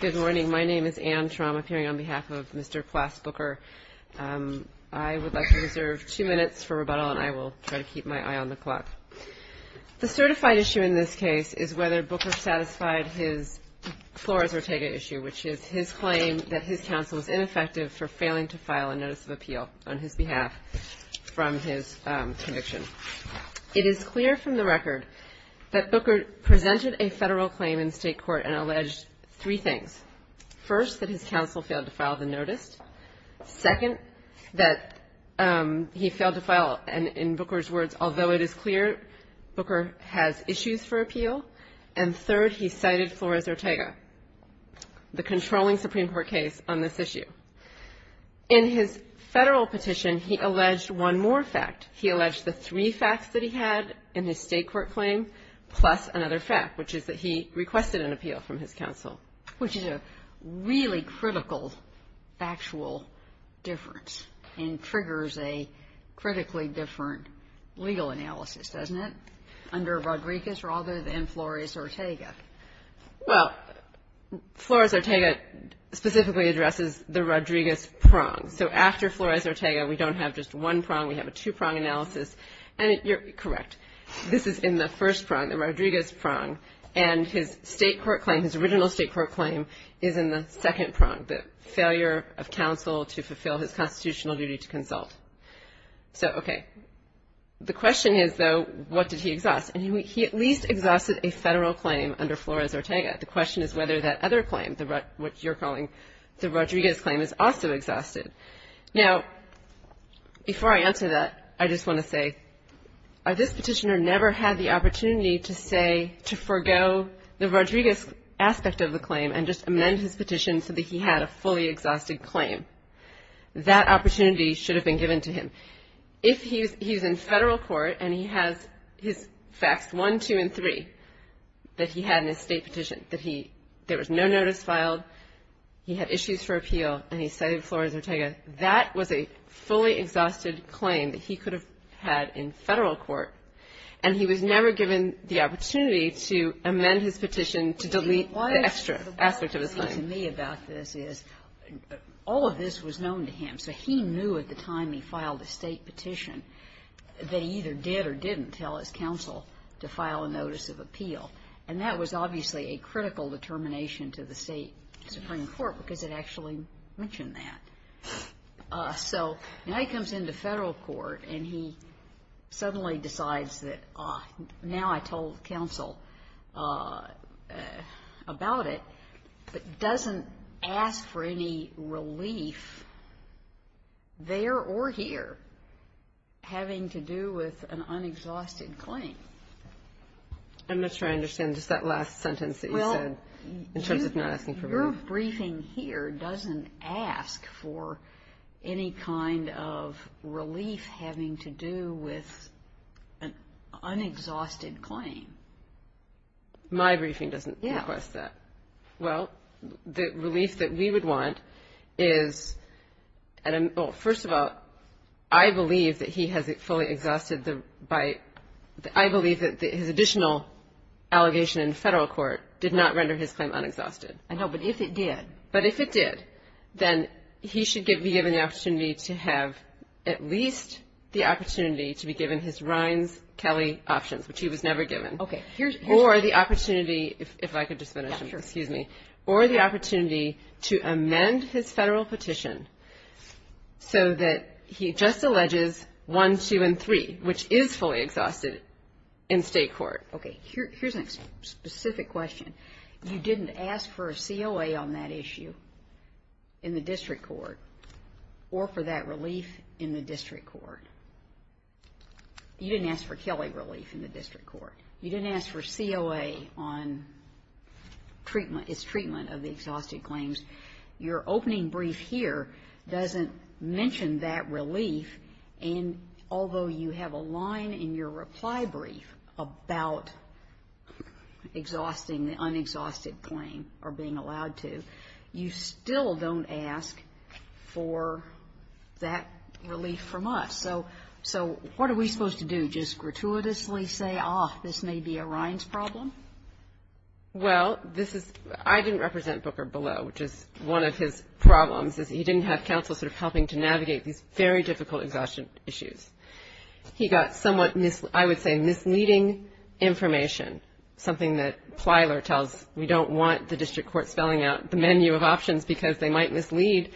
The certified issue in this case is whether Booker satisfied his Flores-Ortega issue, which is his claim that his counsel was ineffective for failing to file a notice of appeal on his behalf. It is clear from the record that Booker presented a federal claim in state court and alleged three things. First, that his counsel failed to file the notice. Second, that he failed to file, and in Booker's words, although it is clear, Booker has issues for appeal. And third, he cited Flores-Ortega, the controlling Supreme Court case on this petition, he alleged one more fact. He alleged the three facts that he had in his state court claim, plus another fact, which is that he requested an appeal from his counsel. Kagan. Which is a really critical factual difference and triggers a critically different legal analysis, doesn't it, under Rodriguez rather than Flores-Ortega? Well, Flores-Ortega specifically addresses the Rodriguez prong. So after Flores-Ortega, we don't have just one prong. We have a two-prong analysis. And you're correct. This is in the first prong, the Rodriguez prong. And his state court claim, his original state court claim, is in the second prong, the failure of counsel to fulfill his constitutional duty to consult. So, okay. The question is, though, what did he exhaust? And he at least exhausted a federal claim under Flores-Ortega. The question is whether that other claim, what you're calling the Rodriguez claim, is also exhausted. Now, before I answer that, I just want to say, this petitioner never had the opportunity to say, to forego the Rodriguez aspect of the claim and just amend his petition so that he had a fully exhausted claim. That opportunity should have been given to him. If he's in federal court and he has his facts one, two, and three, that he had an estate petition, that he — there was no notice filed, he had issues for appeal, and he cited Flores-Ortega, that was a fully exhausted claim that he could have had in federal court. And he was never given the opportunity to amend his petition to delete the extra aspect of his claim. Kagan. Why is the way he's speaking to me about this is, all of this was known to him. So he knew at the time he filed a state petition that he either did or didn't tell his counsel to file a notice of appeal. And that was obviously a critical determination to the state Supreme Court because it actually mentioned that. So now he comes into federal court and he suddenly decides that, oh, now I told counsel about it, but doesn't ask for any relief there or here having to do with an unexhausted claim. I'm not sure I understand just that last sentence that you said in terms of not asking for relief. Well, your briefing here doesn't ask for any kind of relief having to do with an unexhausted claim. My briefing doesn't request that. Yeah. Well, the relief that we would want is — well, first of all, I believe that he has fully exhausted the — I believe that his additional allegation in federal court did not render his claim unexhausted. I know, but if it did. But if it did, then he should be given the opportunity to have at least the opportunity to be given his Rines-Kelley options, which he was never given, or the opportunity — if I could just finish. Excuse me. Or the opportunity to amend his federal petition so that he just agreed, which is fully exhausted in state court. Okay. Here's a specific question. You didn't ask for a COA on that issue in the district court or for that relief in the district court. You didn't ask for Kelley relief in the district court. You didn't ask for COA on treatment — his treatment of the exhausted claims. Your opening brief here doesn't mention that relief, and although you have a line in your reply brief about exhausting the unexhausted claim or being allowed to, you still don't ask for that relief from us. So what are we supposed to do, just gratuitously say, ah, this may be a Rines problem? Well, this is — I didn't represent Booker below, which is one of his problems, is he didn't have counsel sort of helping to navigate these very difficult exhaustion issues. He got somewhat, I would say, misleading information, something that Plyler tells, we don't want the district court spelling out the menu of options because they might mislead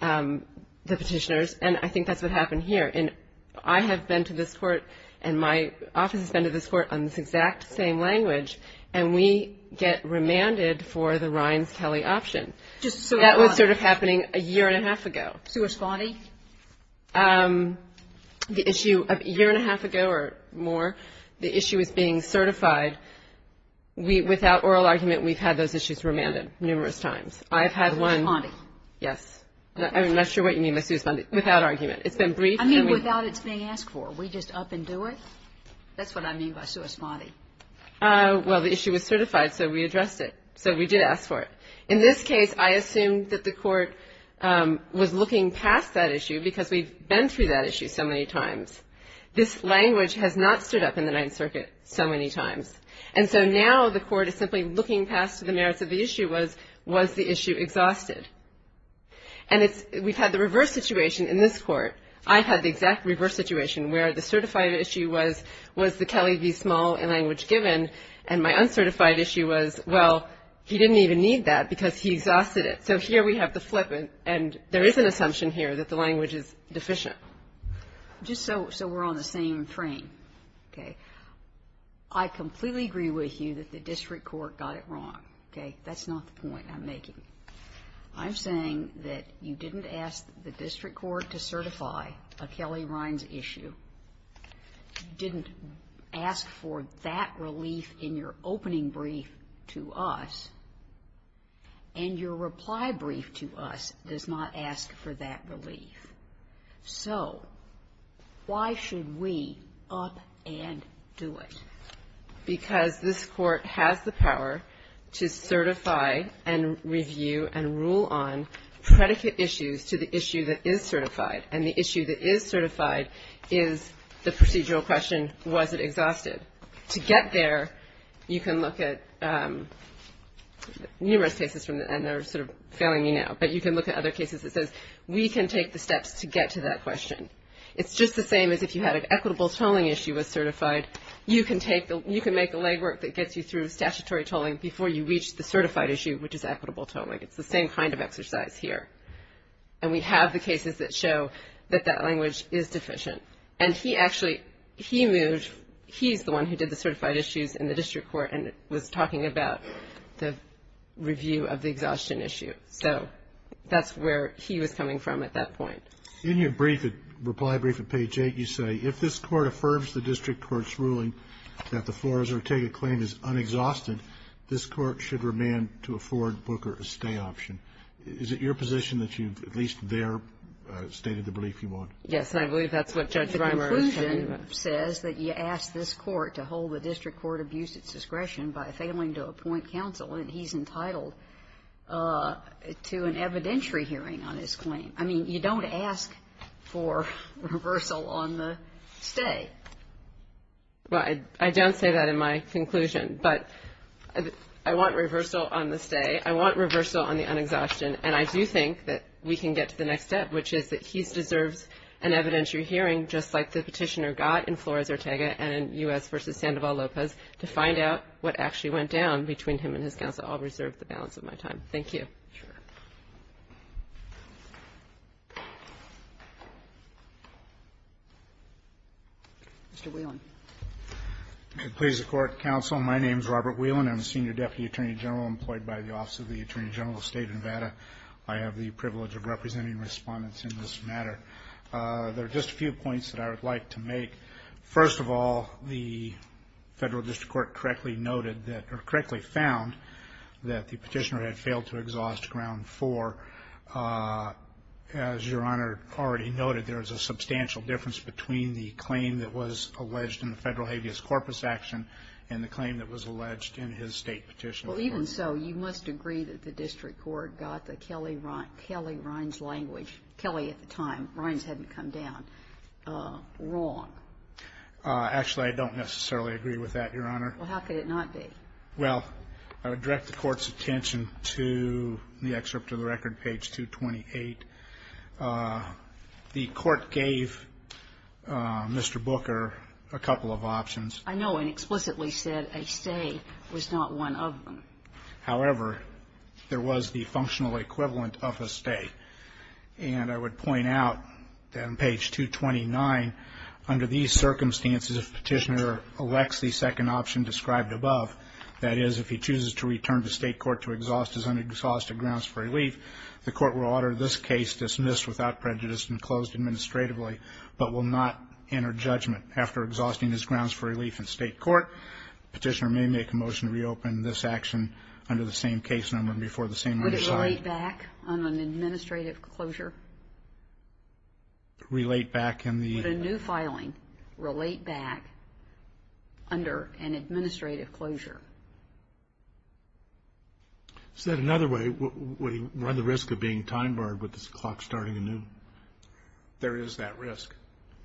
the petitioners, and I think that's what happened here. And I have been to this court, and my office has been to this court on this exact same language, and we get remanded for the Rines-Kelley option. Just so — That was sort of happening a year and a half ago. Sui spondi? The issue — a year and a half ago or more, the issue was being certified. We — without oral argument, we've had those issues remanded numerous times. I've had one — Sui spondi. Yes. I'm not sure what you mean by sui spondi. Without argument. It's been briefed — I mean, without it being asked for. We just up and do it? That's what I mean by sui spondi. Well, the issue was certified, so we addressed it. So we did ask for it. In this case, I assume that the court was looking past that issue because we've been through that issue so many times. This language has not stood up in the Ninth Circuit so many times. And so now the court is simply looking past the merits of the issue was, was the issue exhausted? And it's — we've had the reverse situation in this Court. I've had the exact reverse situation where the certified issue was, was the Kelly v. Small in language given, and my uncertified issue was, well, he didn't even need that because he exhausted it. So here we have the flip, and there is an assumption here that the language is deficient. Just so — so we're on the same frame, okay? I completely agree with you that the district court got it wrong, okay? That's not the point I'm making. I'm saying that you didn't ask the district court to certify a Kelly-Rines issue. You didn't ask for that relief in your opening brief to us, and your reply brief to us does not ask for that relief. So why should we up and do it? Because this Court has the power to certify and review and rule on predicate issues to the issue that is certified. And the issue that is certified is the procedural question, was it exhausted? To get there, you can look at numerous cases from — and they're sort of failing me now, but you can look at other cases that says we can take the steps to get to that question. It's just the same as if you had an equitable tolling issue was certified. You can take the — you can make a legwork that gets you through statutory tolling before you reach the certified issue, which is equitable tolling. It's the same kind of exercise here. And we have the cases that show that that language is deficient. And he actually — he moved — he's the one who did the certified issues in the district court and was talking about the review of the exhaustion issue. So that's where he was coming from at that point. In your brief, reply brief at page 8, you say, if this Court affirms the district court's ruling that the Flores-Ortega claim is unexhausted, this Court should remand to afford Booker a stay option. Is it your position that you've at least there stated the belief you want? Yes, and I believe that's what Judge Reimer is telling me. The conclusion says that you ask this Court to hold the district court abuse at discretion by failing to appoint counsel, and he's entitled to an evidentiary hearing on his claim. I mean, you don't ask for reversal on the stay. Well, I don't say that in my conclusion, but I want reversal on the stay. I want reversal on the unexhaustion. And I do think that we can get to the next step, which is that he deserves an evidentiary hearing, just like the petitioner got in Flores-Ortega and in U.S. v. Sandoval-Lopez, to find out what actually went down between him and his counsel. I'll reserve the balance of my time. Thank you. Sure. Mr. Whelan. It pleases the Court, Counsel. My name's Robert Whelan. I'm a senior deputy attorney general employed by the Office of the Attorney General of the State of Nevada. I have the privilege of representing respondents in this matter. There are just a few points that I would like to make. First of all, the Federal District Court correctly noted that, or correctly found, that the petitioner had failed to exhaust ground four. As Your Honor already noted, there is a substantial difference between the claim that was alleged in the Federal habeas corpus action and the claim that was alleged in his State petition. Well, even so, you must agree that the District Court got the Kelley-Rinds language, Kelley at the time, Rinds hadn't come down, wrong. Actually, I don't necessarily agree with that, Your Honor. Well, how could it not be? Well, I would direct the Court's attention to the excerpt of the record, page 228. The Court gave Mr. Booker a couple of options. I know, and explicitly said a stay was not one of them. However, there was the functional equivalent of a stay. And I would point out that on page 229, under these circumstances, if the petitioner elects the second option described above, that is, if he chooses to return to State court to exhaust his unexhausted grounds for relief, the Court will order this case dismissed without prejudice and closed administratively, but will not enter judgment after exhausting his grounds for relief in State court. Petitioner may make a motion to reopen this action under the same case number and before the same reasoning. Would it relate back under an administrative closure? Relate back in the... Would a new filing relate back under an administrative closure? Is that another way? Would he run the risk of being time barred with this clock starting anew? There is that risk.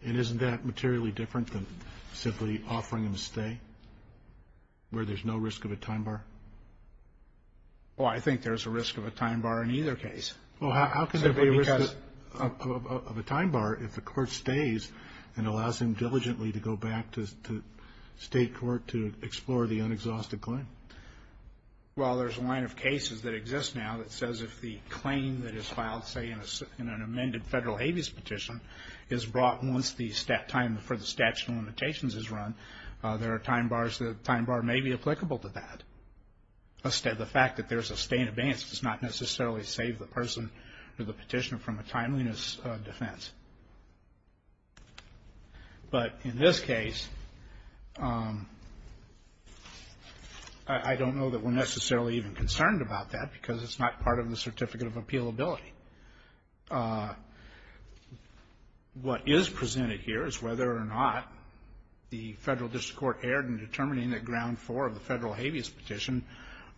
And isn't that materially different than simply offering him a stay, where there's no risk of a time bar? Well, I think there's a risk of a time bar in either case. Well, how could there be a risk of a time bar if the Court stays and allows him diligently to go back to State court to explore the unexhausted claim? Well, there's a line of cases that exist now that says if the claim that is filed, say, in an amended federal habeas petition is brought once the time for the statute of limitations is run, there are time bars. The time bar may be applicable to that. The fact that there's a stay in advance does not necessarily save the person or the petitioner from a timeliness defense. But in this case, I don't know that we're necessarily even concerned about that because it's not part of the Certificate of Appealability. What is presented here is whether or not the federal district court erred in determining that ground four of the federal habeas petition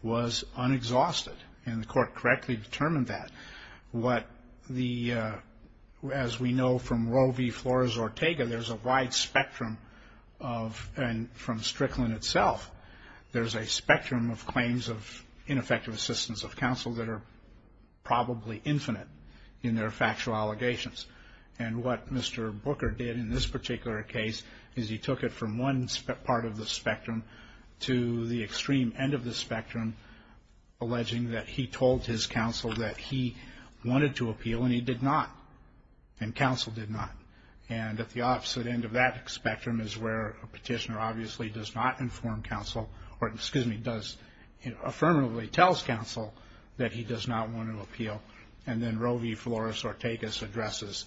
was unexhausted. And the court correctly determined that. What the, as we know from Roe v. Flores-Ortega, there's a wide spectrum of, and from Strickland itself, there's a spectrum of claims of ineffective assistance of counsel that are probably infinite in their factual allegations. And what Mr. Booker did in this particular case is he took it from one part of the spectrum to the extreme end of the spectrum, alleging that he told his counsel that he wanted to appeal and he did not. And counsel did not. And at the opposite end of that spectrum is where a petitioner obviously does not inform counsel or, excuse me, does, affirmatively tells counsel that he does not want to appeal. And then Roe v. Flores-Ortega addresses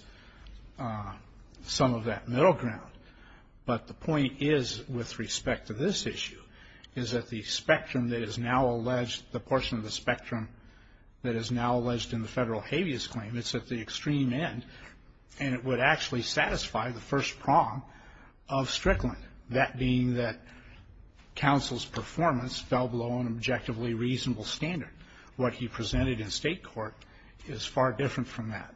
some of that middle ground. But the point is, with respect to this issue, is that the spectrum that is now alleged, the portion of the spectrum that is now alleged in the federal habeas claim, it's at the extreme end and it would actually satisfy the first prong of Strickland. That being that counsel's performance fell below an objectively reasonable standard. What he presented in state court is far different from that.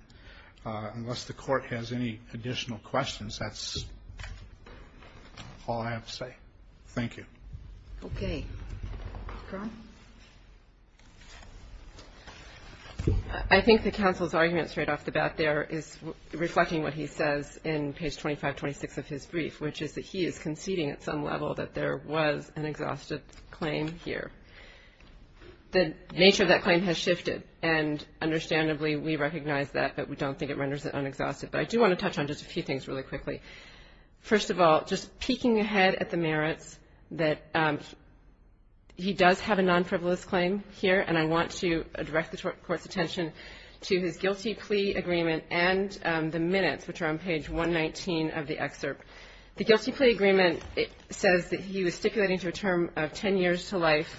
Unless the court has any additional questions, that's all I have to say. Thank you. Okay. Ron? I think that counsel's argument straight off the bat there is reflecting what he says in page 2526 of his brief, which is that he is conceding at some level that there was an exhaustive claim here. The nature of that claim has shifted. And understandably, we recognize that, but we don't think it renders it unexhaustive. But I do want to touch on just a few things really quickly. First of all, just peeking ahead at the merits, that he does have a non-frivolous claim here. And I want to direct the court's attention to his guilty plea agreement and the minutes, which are on page 119 of the excerpt. The guilty plea agreement says that he was stipulating to a term of 10 years to life.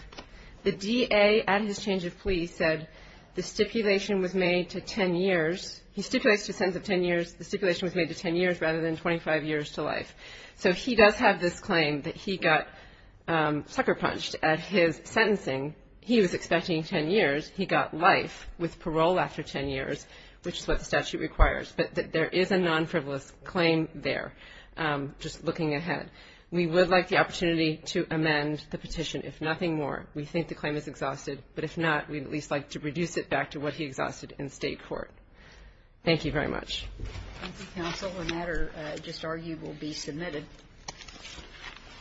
The DA at his change of plea said the stipulation was made to 10 years. He stipulates to a sentence of 10 years. The stipulation was made to 10 years rather than 25 years to life. So he does have this claim that he got sucker punched at his sentencing. He was expecting 10 years. He got life with parole after 10 years, which is what the statute requires. But there is a non-frivolous claim there, just looking ahead. We would like the opportunity to amend the petition, if nothing more. We think the claim is exhausted. But if not, we'd at least like to reduce it back to what he exhausted in state court. Thank you very much. Thank you, counsel. The matter, just argued, will be submitted.